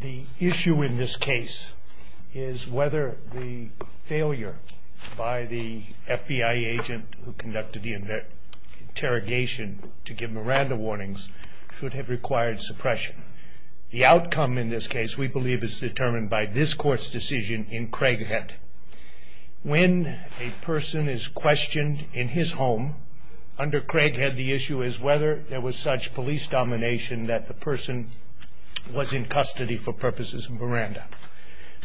The issue in this case is whether the failure by the FBI agent who conducted the interrogation to give Miranda warnings should have required suppression. The outcome in this case, we believe, is determined by this court's decision in Craighead. When a person is questioned in his home under Craighead, the issue is whether there was such police domination that the person was in custody for purposes of Miranda.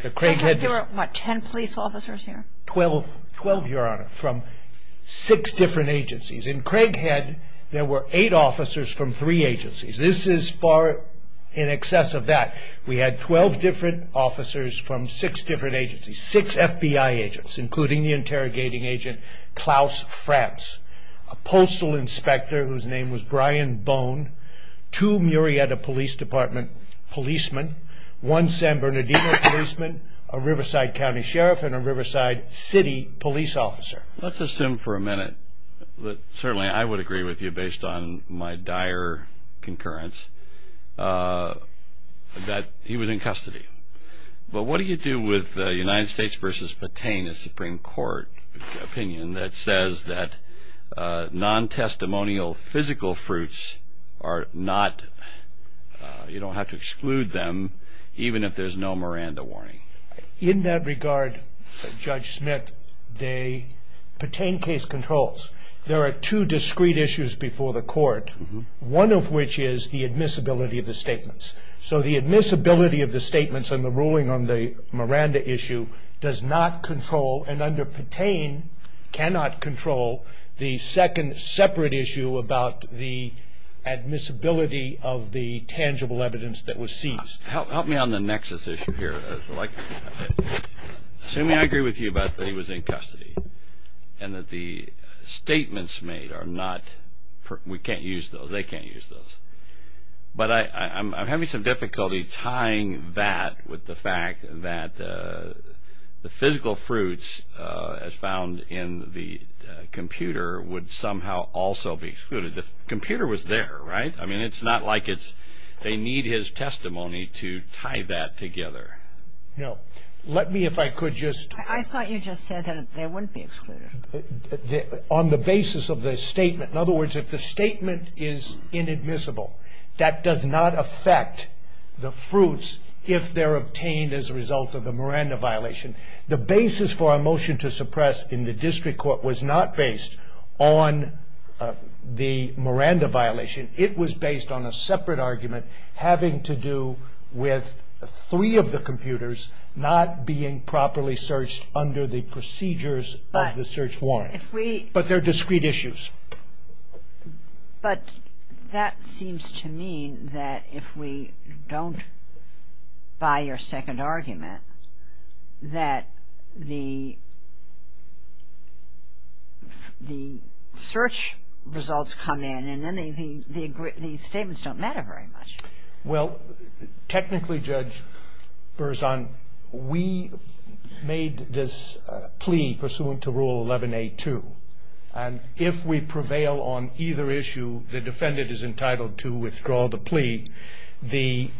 There were ten police officers here? Twelve, Your Honor, from six different agencies. In Craighead, there were eight officers from three agencies. This is far in excess of that. We had twelve different officers from six different agencies. Six FBI agents, including the interrogating agent Klaus Frantz, a postal inspector whose name was Brian Bone, two Murrieta Police Department policemen, one San Bernardino policeman, a Riverside County sheriff, and a Riverside City police officer. Let's assume for a minute that certainly I would agree with you, based on my dire concurrence, that he was in custody. But what do you do with United States v. Patain, a Supreme Court opinion that says that non-testimonial physical fruits are not, you don't have to exclude them, even if there's no Miranda warning? In that regard, Judge Smith, Patain case controls. There are two discrete issues before the court, one of which is the admissibility of the statements. So the admissibility of the statements and the ruling on the Miranda issue does not control, and under Patain, cannot control, the second separate issue about the admissibility of the tangible evidence that was seized. Help me on the nexus issue here. Assuming I agree with you about that he was in custody and that the statements made are not, we can't use those, they can't use those. But I'm having some difficulty tying that with the fact that the physical fruits as found in the computer would somehow also be excluded. The computer was there, right? I mean, it's not like it's, they need his testimony to tie that together. No. Let me, if I could just... I thought you just said that they wouldn't be excluded. On the basis of the statement, in other words, if the statement is inadmissible, that does not affect the fruits if they're obtained as a result of the Miranda violation. The basis for a motion to suppress in the district court was not based on the Miranda violation. It was based on a separate argument having to do with three of the computers not being properly searched under the procedures of the search warrant. But they're discrete issues. But that seems to mean that if we don't buy your second argument that the search results come in and then the statements don't matter very much. Well, technically, Judge Berzon, we made this plea pursuant to Rule 11a2. And if we prevail on either issue, the defendant is entitled to withdraw the plea. The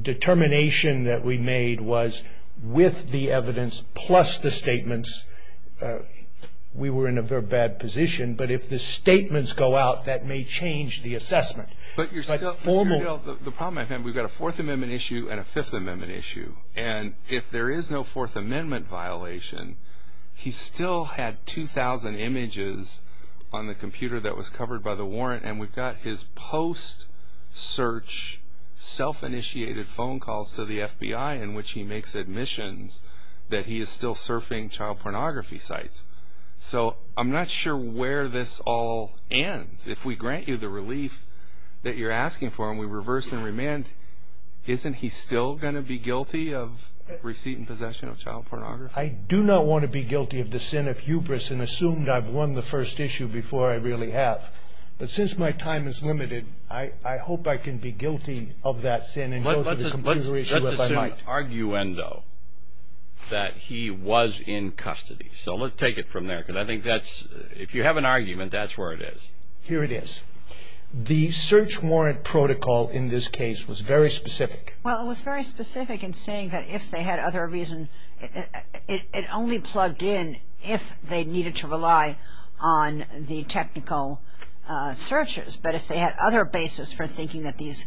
determination that we made was with the evidence plus the statements, we were in a very bad position. But if the statements go out, that may change the assessment. But you're still... But formally... The problem I have, we've got a Fourth Amendment issue and a Fifth Amendment issue. And if there is no Fourth Amendment violation, he still had 2,000 images on the computer that was covered by the warrant. And we've got his post-search, self-initiated phone calls to the FBI in which he makes admissions that he is still surfing child pornography sites. So I'm not sure where this all ends. If we grant you the relief that you're asking for and we reverse and remand, isn't he still going to be guilty of receipt and possession of child pornography? I do not want to be guilty of the sin of hubris and assumed I've won the first issue before I really have. But since my time is limited, I hope I can be guilty of that sin and go to the computer issue if I might. Let's assume, arguendo, that he was in custody. So let's take it from there because I think that's... If you have an argument, that's where it is. Here it is. The search warrant protocol in this case was very specific. Well, it was very specific in saying that if they had other reason... It only plugged in if they needed to rely on the technical searches. But if they had other basis for thinking that these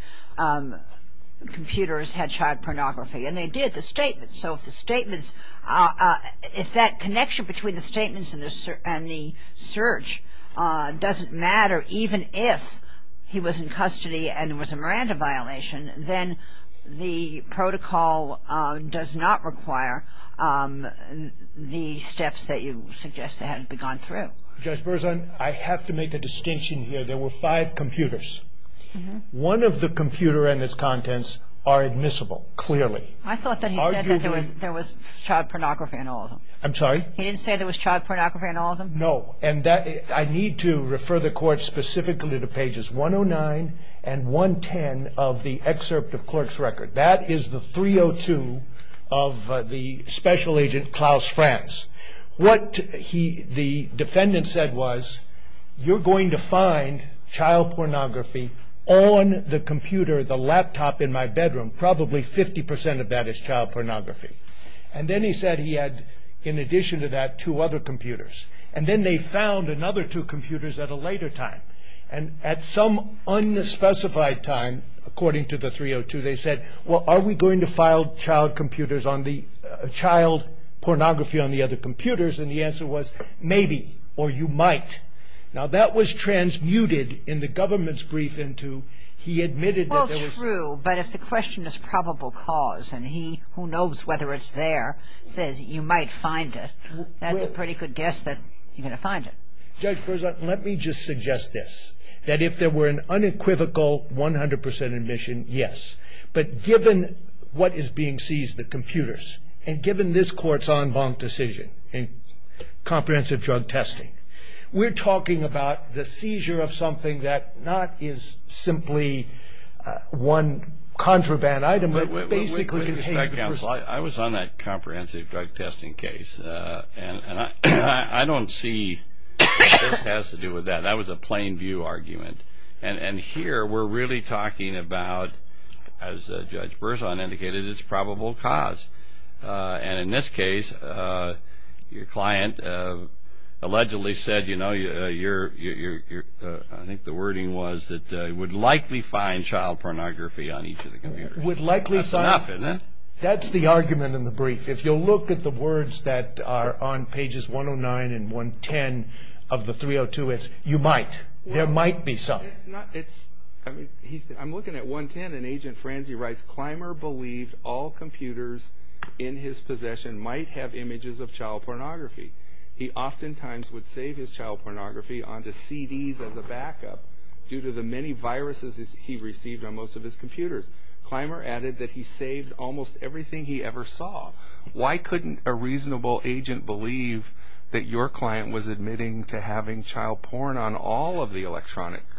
computers had child pornography, and they did, the statements. So if the statements, if that connection between the statements and the search doesn't matter, even if he was in custody and it was a Miranda violation, then the protocol does not require the steps that you suggest they had begun through. Judge Berzon, I have to make a distinction here. There were five computers. One of the computer and its contents are admissible, clearly. I thought that he said that there was child pornography in all of them. I'm sorry? He didn't say there was child pornography in all of them? No, and I need to refer the court specifically to pages 109 and 110 of the excerpt of clerk's record. That is the 302 of the special agent, Klaus Franz. What the defendant said was, you're going to find child pornography on the computer, the laptop in my bedroom. Probably 50% of that is child pornography. And then he said he had, in addition to that, two other computers. And then they found another two computers at a later time. And at some unspecified time, according to the 302, they said, well, are we going to file child pornography on the other computers? And the answer was, maybe, or you might. Now, that was transmuted in the government's brief into he admitted that there was. Well, true, but if the question is probable cause and he, who knows whether it's there, says you might find it, that's a pretty good guess that you're going to find it. Judge Berzon, let me just suggest this, that if there were an unequivocal 100% admission, yes. But given what is being seized, the computers, and given this court's en banc decision in comprehensive drug testing, we're talking about the seizure of something that not is simply one contraband item, but basically contains the person. I was on that comprehensive drug testing case, and I don't see what that has to do with that. That was a plain view argument. And here we're really talking about, as Judge Berzon indicated, it's probable cause. And in this case, your client allegedly said, you know, your, I think the wording was, that he would likely find child pornography on each of the computers. Would likely find. That's enough, isn't it? That's the argument in the brief. If you'll look at the words that are on pages 109 and 110 of the 302, it's you might. There might be some. It's not, it's, I mean, I'm looking at 110, and Agent Franzi writes, Clymer believed all computers in his possession might have images of child pornography. He oftentimes would save his child pornography onto CDs as a backup, due to the many viruses he received on most of his computers. Clymer added that he saved almost everything he ever saw. Why couldn't a reasonable agent believe that your client was admitting to having child porn on all of the electronic devices?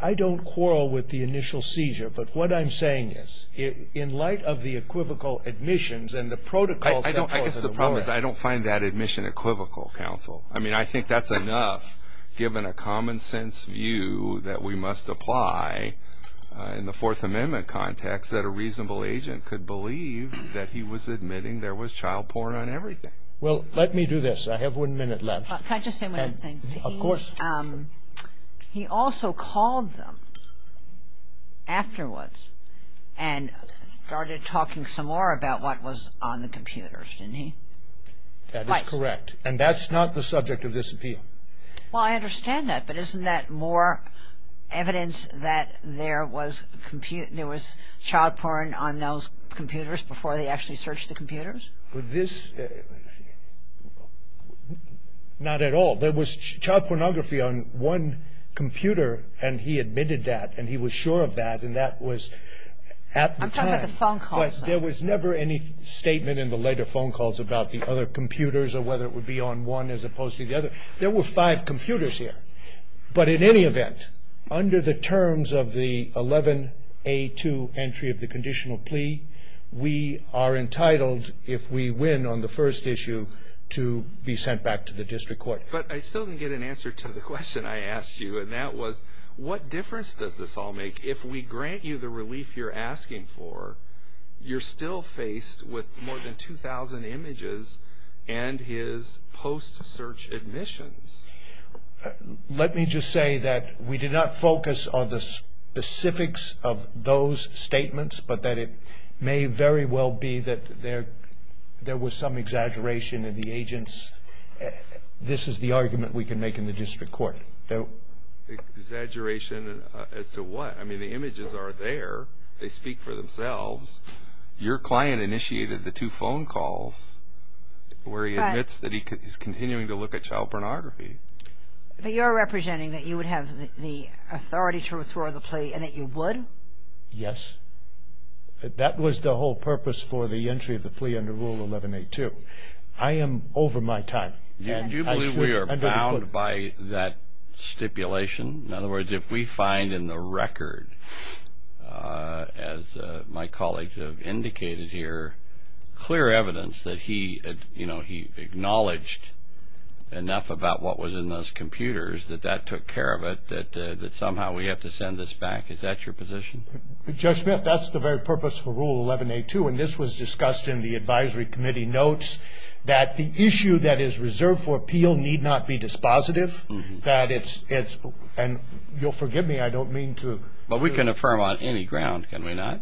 I don't quarrel with the initial seizure, but what I'm saying is, in light of the equivocal admissions and the protocol set forth in the ruling. I guess the problem is I don't find that admission equivocal, counsel. I mean, I think that's enough, given a common sense view that we must apply, in the Fourth Amendment context, that a reasonable agent could believe that he was admitting there was child porn on everything. Well, let me do this. I have one minute left. Can I just say one other thing? Of course. He also called them afterwards, and started talking some more about what was on the computers, didn't he? That is correct, and that's not the subject of this appeal. Well, I understand that, but isn't that more evidence that there was child porn on those computers before they actually searched the computers? Not at all. There was child pornography on one computer, and he admitted that, and he was sure of that, and that was at the time. I'm talking about the phone calls. There was never any statement in the later phone calls about the other computers or whether it would be on one as opposed to the other. There were five computers here. But in any event, under the terms of the 11A2 entry of the conditional plea, we are entitled, if we win on the first issue, to be sent back to the district court. But I still didn't get an answer to the question I asked you, and that was what difference does this all make? If we grant you the relief you're asking for, you're still faced with more than 2,000 images and his post-search admissions. Let me just say that we did not focus on the specifics of those statements, but that it may very well be that there was some exaggeration in the agent's this is the argument we can make in the district court. Exaggeration as to what? I mean, the images are there. They speak for themselves. Your client initiated the two phone calls where he admits that he's continuing to look at child pornography. But you're representing that you would have the authority to withdraw the plea and that you would? Yes. That was the whole purpose for the entry of the plea under Rule 11A2. I am over my time. Do you believe we are bound by that stipulation? In other words, if we find in the record, as my colleagues have indicated here, clear evidence that he acknowledged enough about what was in those computers, that that took care of it, that somehow we have to send this back, is that your position? Judge Smith, that's the very purpose for Rule 11A2, and this was discussed in the advisory committee notes, that the issue that is reserved for appeal need not be dispositive. And you'll forgive me, I don't mean to. But we can affirm on any ground, can we not?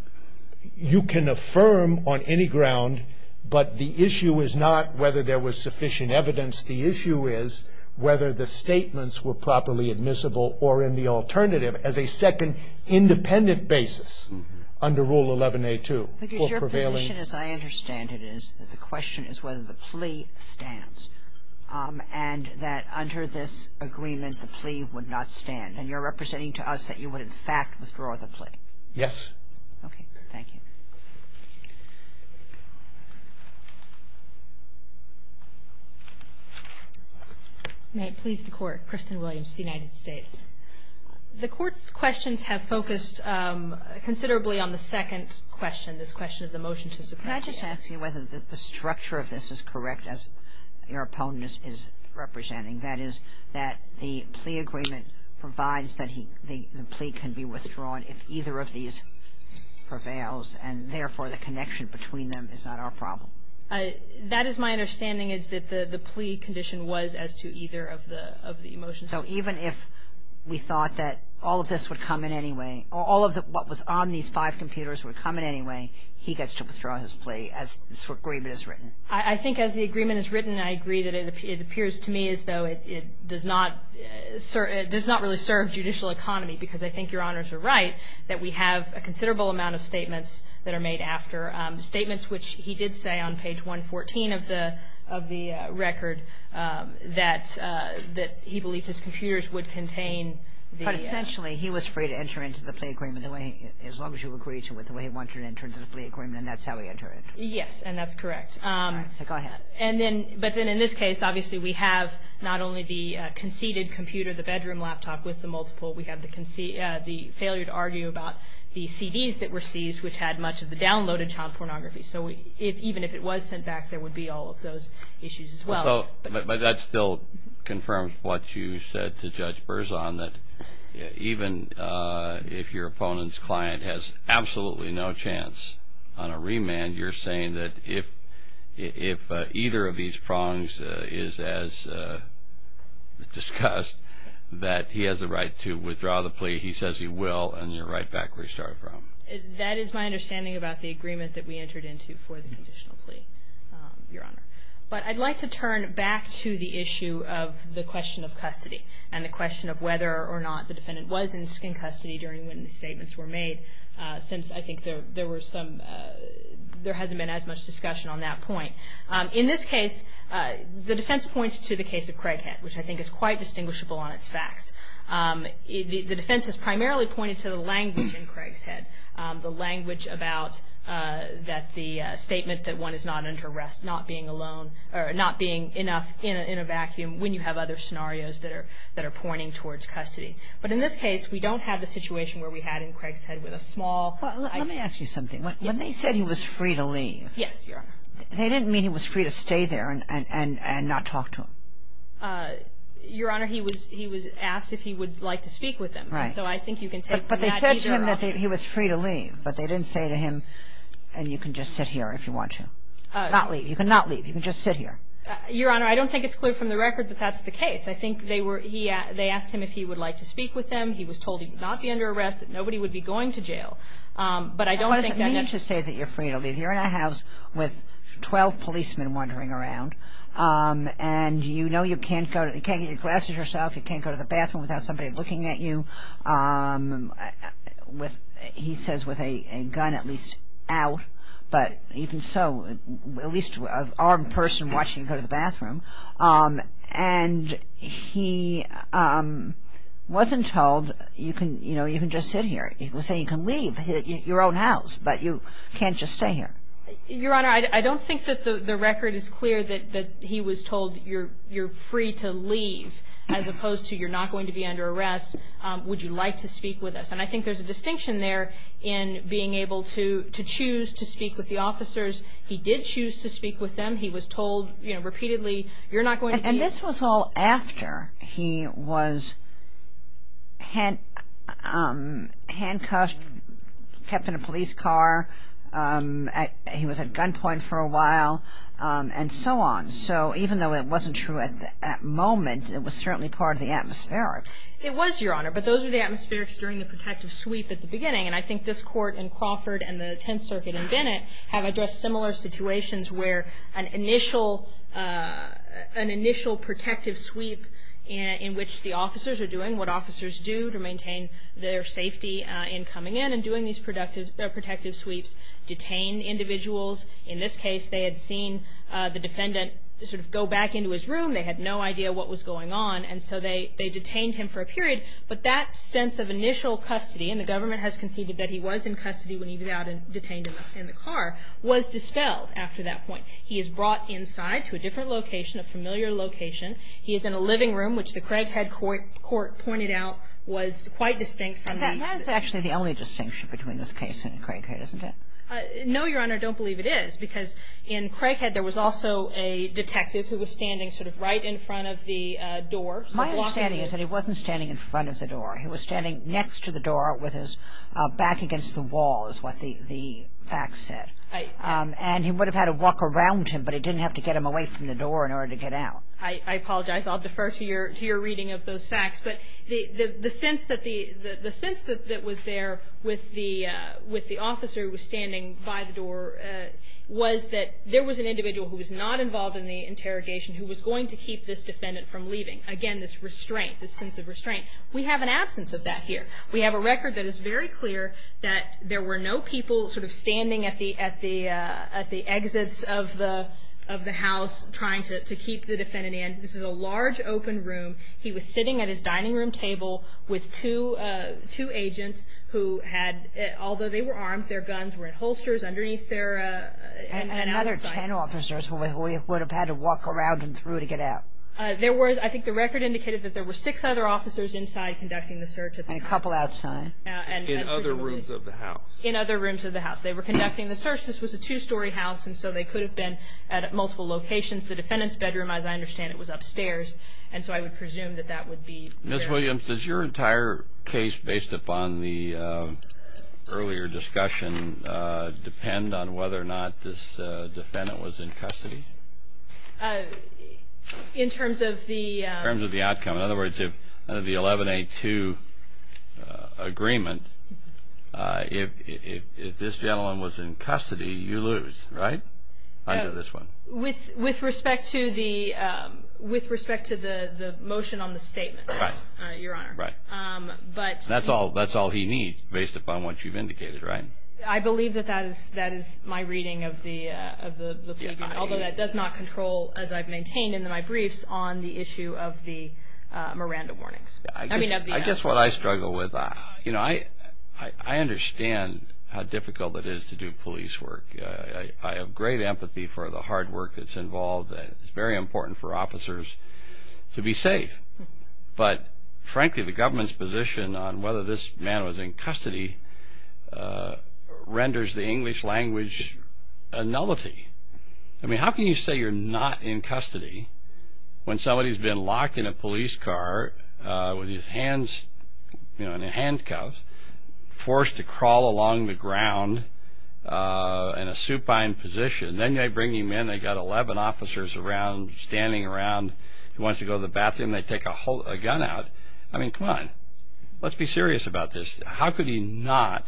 You can affirm on any ground, but the issue is not whether there was sufficient evidence. The issue is whether the statements were properly admissible or in the alternative. And I believe that the question that we have to ask ourselves is whether there was sufficient evidence that the plaintiff, as a second independent basis under Rule 11A2 for prevailing. Because your position, as I understand it, is that the question is whether the plea stands, and that under this agreement the plea would not stand. And you're representing to us that you would, in fact, withdraw the plea. Yes. Okay. Thank you. May it please the Court. Kristen Williams, United States. The Court's questions have focused considerably on the second question, this question of the motion to suppress the act. Can I just ask you whether the structure of this is correct, as your opponent is representing? That is, that the plea agreement provides that the plea can be withdrawn if either of these prevails, and therefore the connection between them is not our problem. That is my understanding, is that the plea condition was as to either of the motions. So even if we thought that all of this would come in any way, all of what was on these five computers would come in any way, he gets to withdraw his plea as this agreement is written. I think as the agreement is written, I agree that it appears to me as though it does not really serve judicial economy, because I think Your Honors are right, that we have a considerable amount of statements that are made after. Statements which he did say on page 114 of the record that he believed his computers would contain the act. But essentially he was free to enter into the plea agreement the way, as long as you agree to it, the way he wanted to enter into the plea agreement, and that's how he entered it. Yes, and that's correct. All right. So go ahead. But then in this case, obviously we have not only the conceded computer, the bedroom laptop, with the multiple, we have the failure to argue about the CDs that were seized, which had much of the downloaded child pornography. So even if it was sent back, there would be all of those issues as well. But that still confirms what you said to Judge Berzon, that even if your opponent's client has absolutely no chance on a remand, you're saying that if either of these prongs is as discussed, that he has a right to withdraw the plea. He says he will, and you're right back where you started from. That is my understanding about the agreement that we entered into for the conditional plea, Your Honor. But I'd like to turn back to the issue of the question of custody and the question of whether or not the defendant was in custody during when the statements were made, since I think there were some, there hasn't been as much discussion on that point. In this case, the defense points to the case of Craighead, which I think is quite distinguishable on its facts. The defense has primarily pointed to the language in Craighead, the language about that the statement that one is not under arrest, not being alone, or not being enough in a vacuum when you have other scenarios that are pointing towards custody. But in this case, we don't have the situation where we had in Craighead with a small... Well, let me ask you something. When they said he was free to leave... Yes, Your Honor. They didn't mean he was free to stay there and not talk to him. Your Honor, he was asked if he would like to speak with him. Right. So I think you can take that either option. But they said to him that he was free to leave, but they didn't say to him, and you can just sit here if you want to. Not leave. You can not leave. You can just sit here. Your Honor, I don't think it's clear from the record that that's the case. I think they were, they asked him if he would like to speak with them. He was told he would not be under arrest, that nobody would be going to jail. But I don't think that... 12 policemen wandering around, and you know you can't go to, you can't get your glasses yourself, you can't go to the bathroom without somebody looking at you. He says with a gun at least out, but even so, at least an armed person watching you go to the bathroom. And he wasn't told, you know, you can just sit here. They say you can leave your own house, but you can't just stay here. Your Honor, I don't think that the record is clear that he was told you're free to leave as opposed to you're not going to be under arrest. Would you like to speak with us? And I think there's a distinction there in being able to choose to speak with the officers. He did choose to speak with them. He was told, you know, repeatedly, you're not going to be... This was all after he was handcuffed, kept in a police car. He was at gunpoint for a while, and so on. So even though it wasn't true at that moment, it was certainly part of the atmospheric. It was, Your Honor, but those were the atmospherics during the protective sweep at the beginning. And I think this Court in Crawford and the Tenth Circuit in Bennett have addressed similar situations where an initial protective sweep in which the officers are doing what officers do to maintain their safety in coming in and doing these protective sweeps detain individuals. In this case, they had seen the defendant sort of go back into his room. They had no idea what was going on, and so they detained him for a period. But that sense of initial custody, and the government has conceded that he was in custody when he was out and detained in the car, was dispelled after that point. He is brought inside to a different location, a familiar location. He is in a living room, which the Craighead Court pointed out was quite distinct from the... That is actually the only distinction between this case and Craighead, isn't it? No, Your Honor, I don't believe it is, because in Craighead there was also a detective who was standing sort of right in front of the door. My understanding is that he wasn't standing in front of the door. He was standing next to the door with his back against the wall is what the facts said. And he would have had to walk around him, but he didn't have to get him away from the door in order to get out. I apologize. I'll defer to your reading of those facts. But the sense that was there with the officer who was standing by the door was that there was an individual who was not involved in the interrogation who was going to keep this defendant from leaving. Again, this restraint, this sense of restraint. We have an absence of that here. We have a record that is very clear that there were no people sort of standing at the exits of the house trying to keep the defendant in. This is a large open room. He was sitting at his dining room table with two agents who had, although they were armed, their guns were in holsters underneath their... And another 10 officers who would have had to walk around him through to get out. I think the record indicated that there were six other officers inside conducting the search. And a couple outside. In other rooms of the house. In other rooms of the house. They were conducting the search. This was a two-story house, and so they could have been at multiple locations. The defendant's bedroom, as I understand it, was upstairs. And so I would presume that that would be... Ms. Williams, does your entire case based upon the earlier discussion depend on whether or not this defendant was in custody? In terms of the... In terms of the outcome. In other words, under the 11A2 agreement, if this gentleman was in custody, you lose, right? Under this one. With respect to the motion on the statement, Your Honor. Right. That's all he needs based upon what you've indicated, right? I believe that that is my reading of the plea agreement. Although that does not control, as I've maintained in my briefs, on the issue of the Miranda warnings. I guess what I struggle with, you know, I understand how difficult it is to do police work. I have great empathy for the hard work that's involved. It's very important for officers to be safe. But frankly, the government's position on whether this man was in custody renders the English language a nullity. I mean, how can you say you're not in custody when somebody's been locked in a police car with his hands in a handcuff, forced to crawl along the ground in a supine position. Then they bring him in, they've got 11 officers around, standing around. He wants to go to the bathroom, they take a gun out. I mean, come on. Let's be serious about this. How could he not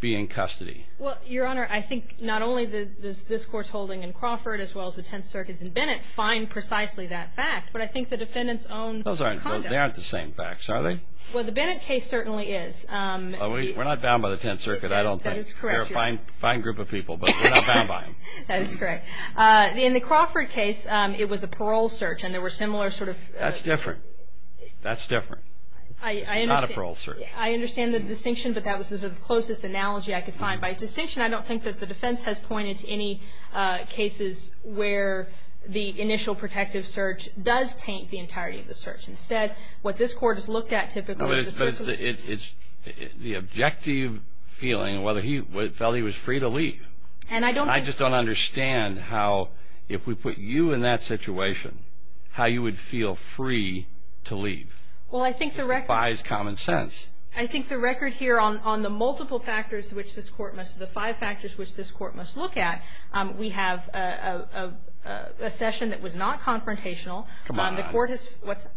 be in custody? Well, Your Honor, I think not only does this Court's holding in Crawford as well as the Tenth Circuit's in Bennett find precisely that fact, but I think the defendant's own conduct. Those aren't the same facts, are they? Well, the Bennett case certainly is. We're not bound by the Tenth Circuit, I don't think. That is correct. They're a fine group of people, but we're not bound by them. That is correct. In the Crawford case, it was a parole search, and there were similar sort of – That's different. That's different. It's not a parole search. I understand the distinction, but that was the sort of closest analogy I could find. By distinction, I don't think that the defense has pointed to any cases where the initial protective search does taint the entirety of the search. Instead, what this Court has looked at typically – But it's the objective feeling of whether he felt he was free to leave. And I don't think – I just don't understand how, if we put you in that situation, how you would feel free to leave. Well, I think the record – It defies common sense. I think the record here on the multiple factors which this Court must – the five factors which this Court must look at, we have a session that was not confrontational. Come on. The Court has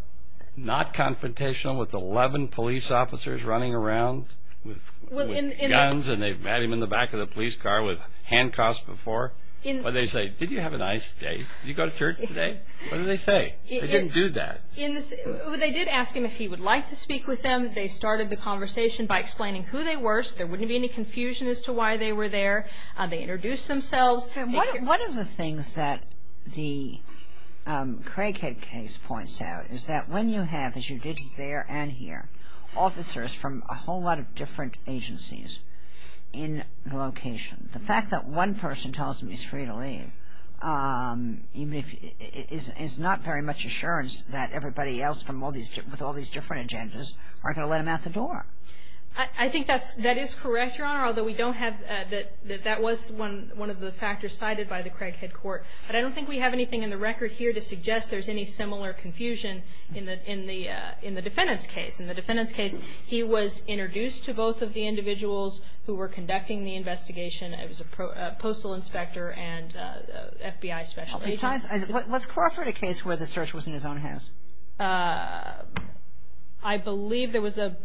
– Not confrontational with 11 police officers running around with guns, and they've had him in the back of the police car with handcuffs before. What did they say? Did you have a nice day? Did you go to church today? What did they say? They didn't do that. They did ask him if he would like to speak with them. They started the conversation by explaining who they were, so there wouldn't be any confusion as to why they were there. They introduced themselves. One of the things that the Craighead case points out is that when you have, as you did there and here, officers from a whole lot of different agencies in the location, the fact that one person tells him he's free to leave is not very much assurance that everybody else with all these different agendas aren't going to let him out the door. I think that is correct, Your Honor, although we don't have – that was one of the factors cited by the Craighead Court. But I don't think we have anything in the record here to suggest there's any similar confusion in the defendant's case. In the defendant's case, he was introduced to both of the individuals who were conducting the investigation. It was a postal inspector and FBI special agent. Was Crawford a case where the search was in his own house? I believe there was a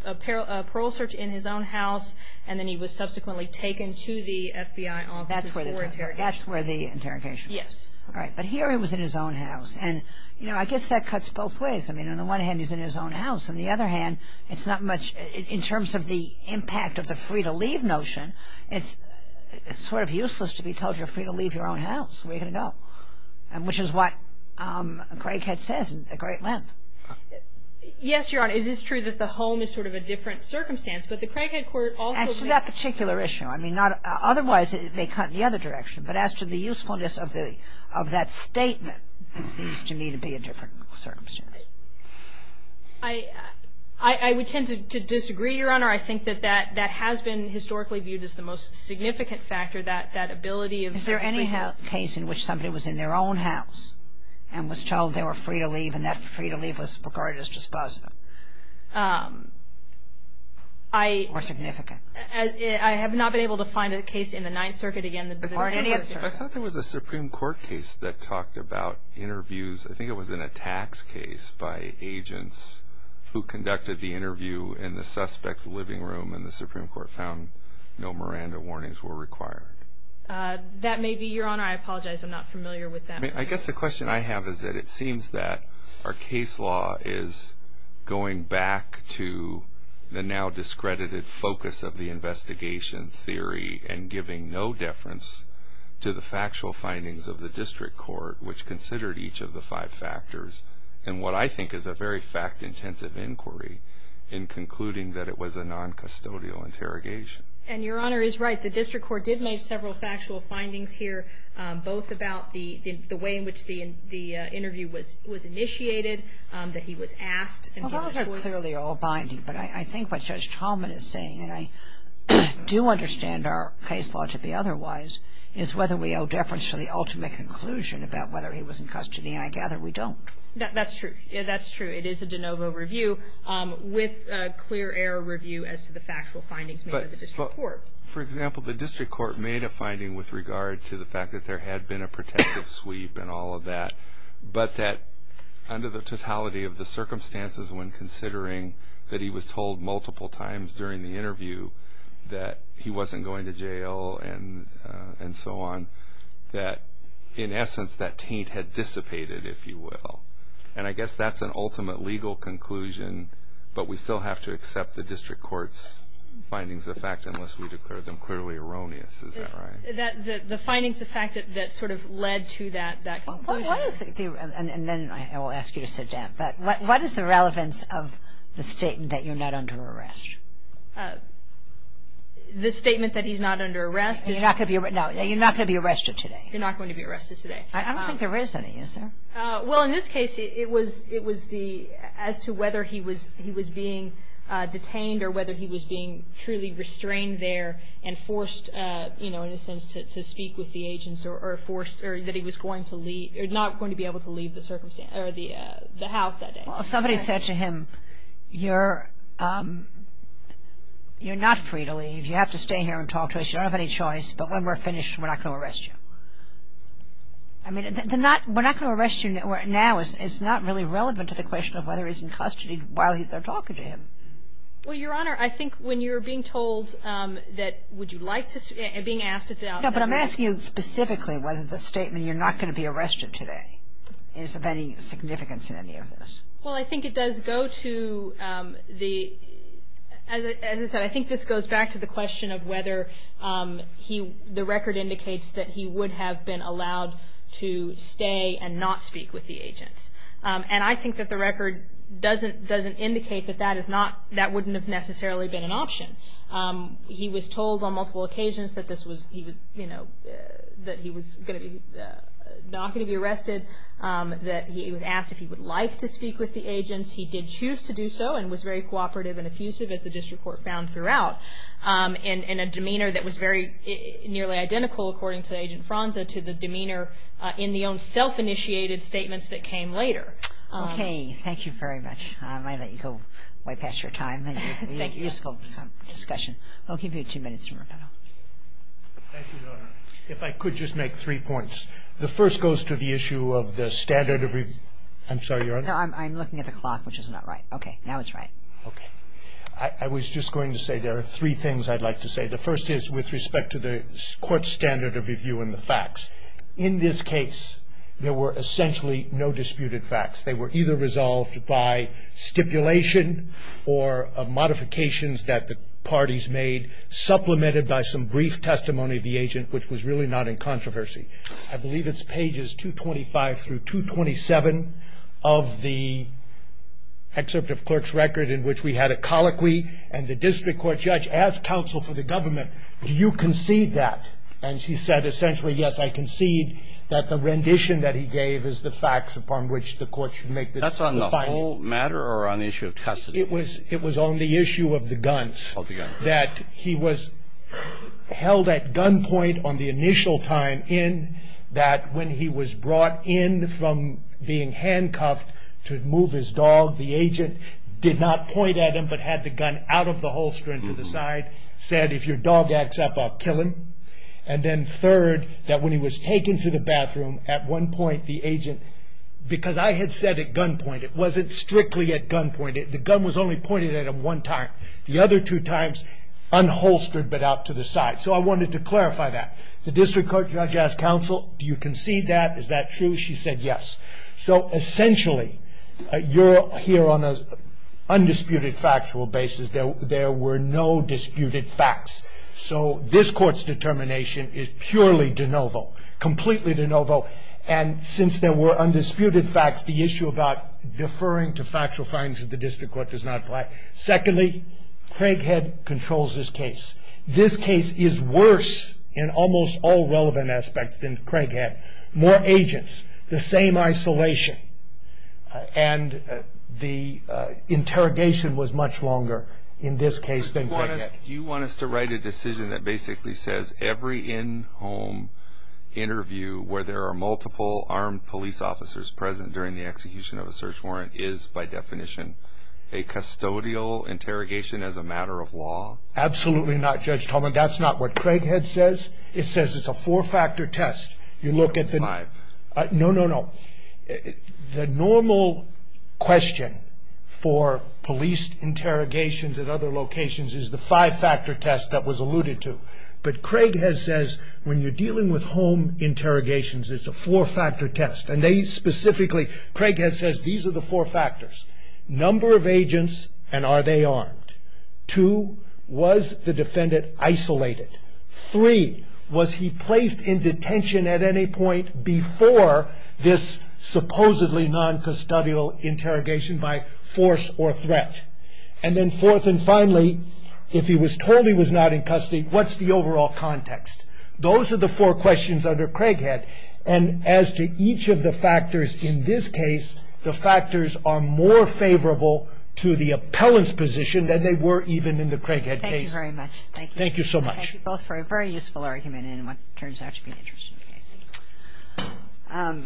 parole search in his own house, and then he was subsequently taken to the FBI offices for interrogation. That's where the interrogation was. Yes. All right, but here he was in his own house. And, you know, I guess that cuts both ways. I mean, on the one hand, he's in his own house. On the other hand, it's not much – in terms of the impact of the free-to-leave notion, it's sort of useless to be told you're free to leave your own house. Where are you going to go? Which is what Craighead says in great length. Yes, Your Honor. It is true that the home is sort of a different circumstance, but the Craighead Court also – As to that particular issue, I mean, not – otherwise, they cut in the other direction. But as to the usefulness of that statement, it seems to me to be a different circumstance. I would tend to disagree, Your Honor. I think that that has been historically viewed as the most significant factor, that ability of – Is there any case in which somebody was in their own house and was told they were free to leave and that free-to-leave was regarded as dispositive? Or significant? I have not been able to find a case in the Ninth Circuit. I thought there was a Supreme Court case that talked about interviews. I think it was in a tax case by agents who conducted the interview in the suspect's living room and the Supreme Court found no Miranda warnings were required. That may be, Your Honor. I apologize. I'm not familiar with that. I guess the question I have is that it seems that our case law is going back to the now discredited focus of the investigation theory and giving no deference to the factual findings of the district court, which considered each of the five factors in what I think is a very fact-intensive inquiry in concluding that it was a non-custodial interrogation. And Your Honor is right. The district court did make several factual findings here, both about the way in which the interview was initiated, that he was asked. Well, those are clearly all binding. But I think what Judge Talman is saying, and I do understand our case law to be otherwise, is whether we owe deference to the ultimate conclusion about whether he was in custody. And I gather we don't. That's true. That's true. It is a de novo review with a clear error review as to the factual findings made by the district court. For example, the district court made a finding with regard to the fact that there had been a protective sweep and all of that, but that under the totality of the circumstances, when considering that he was told multiple times during the interview that he wasn't going to jail and so on, that in essence that taint had dissipated, if you will. And I guess that's an ultimate legal conclusion, but we still have to accept the district court's findings of fact unless we declare them clearly erroneous. Is that right? The findings of fact that sort of led to that conclusion. And then I will ask you to sit down. But what is the relevance of the statement that you're not under arrest? The statement that he's not under arrest is you're not going to be arrested today. You're not going to be arrested today. I don't think there is any, is there? Well, in this case, it was as to whether he was being detained or whether he was being truly restrained there and forced, you know, in a sense to speak with the agents or that he was not going to be able to leave the house that day. Well, if somebody said to him, you're not free to leave. You have to stay here and talk to us. You don't have any choice. But when we're finished, we're not going to arrest you. I mean, we're not going to arrest you now. It's not really relevant to the question of whether he's in custody while they're talking to him. Well, Your Honor, I think when you're being told that would you like to, being asked at the outset. No, but I'm asking you specifically whether the statement you're not going to be arrested today is of any significance in any of this. Well, I think it does go to the, as I said, I think this goes back to the question of whether he, the record indicates that he would have been allowed to stay and not speak with the agents. And I think that the record doesn't indicate that that is not, that wouldn't have necessarily been an option. He was told on multiple occasions that this was, you know, that he was not going to be arrested, that he was asked if he would like to speak with the agents. He did choose to do so and was very cooperative and effusive, as the district court found throughout, in a demeanor that was very nearly identical, according to Agent Franza, to the demeanor in the own self-initiated statements that came later. Okay. Thank you very much. I might let you go way past your time. Thank you. Useful discussion. I'll give you two minutes to wrap it up. Thank you, Your Honor. If I could just make three points. The first goes to the issue of the standard of review. I'm sorry, Your Honor. No, I'm looking at the clock, which is not right. Okay. Now it's right. Okay. I was just going to say there are three things I'd like to say. The first is with respect to the court's standard of review and the facts. In this case, there were essentially no disputed facts. They were either resolved by stipulation or modifications that the parties made, supplemented by some brief testimony of the agent, which was really not in controversy. I believe it's pages 225 through 227 of the excerpt of Clerk's record, in which we had a colloquy and the district court judge asked counsel for the government, do you concede that? And she said essentially, yes, I concede that the rendition that he gave is the facts upon which the court should make the finding. That's on the whole matter or on the issue of custody? It was on the issue of the guns. Of the guns. That he was held at gunpoint on the initial time in, that when he was brought in from being handcuffed to move his dog, the agent did not point at him but had the gun out of the holster and to the side, said if your dog acts up, I'll kill him. And then third, that when he was taken to the bathroom, at one point the agent, because I had said at gunpoint, it wasn't strictly at gunpoint, the gun was only pointed at him one time. The other two times, unholstered but out to the side. So I wanted to clarify that. The district court judge asked counsel, do you concede that? Is that true? She said yes. So essentially, you're here on an undisputed factual basis. There were no disputed facts. So this court's determination is purely de novo. Completely de novo. And since there were undisputed facts, the issue about deferring to factual findings of the district court does not apply. Secondly, Craighead controls this case. This case is worse in almost all relevant aspects than Craighead. More agents. The same isolation. And the interrogation was much longer in this case than Craighead. Do you want us to write a decision that basically says every in-home interview where there are multiple armed police officers present during the execution of a search warrant is by definition a custodial interrogation as a matter of law? Absolutely not, Judge Tolman. That's not what Craighead says. It says it's a four-factor test. No, no, no. The normal question for police interrogations at other locations is the five-factor test that was alluded to. But Craighead says when you're dealing with home interrogations, it's a four-factor test. And they specifically, Craighead says these are the four factors. Number of agents, and are they armed? Two, was the defendant isolated? Three, was he placed in detention at any point before this supposedly non-custodial interrogation by force or threat? And then fourth and finally, if he was told he was not in custody, what's the overall context? Those are the four questions under Craighead. And as to each of the factors in this case, the factors are more favorable to the appellant's position than they were even in the Craighead case. Thank you very much. Thank you so much. Thank you both for a very useful argument in what turns out to be an interesting case.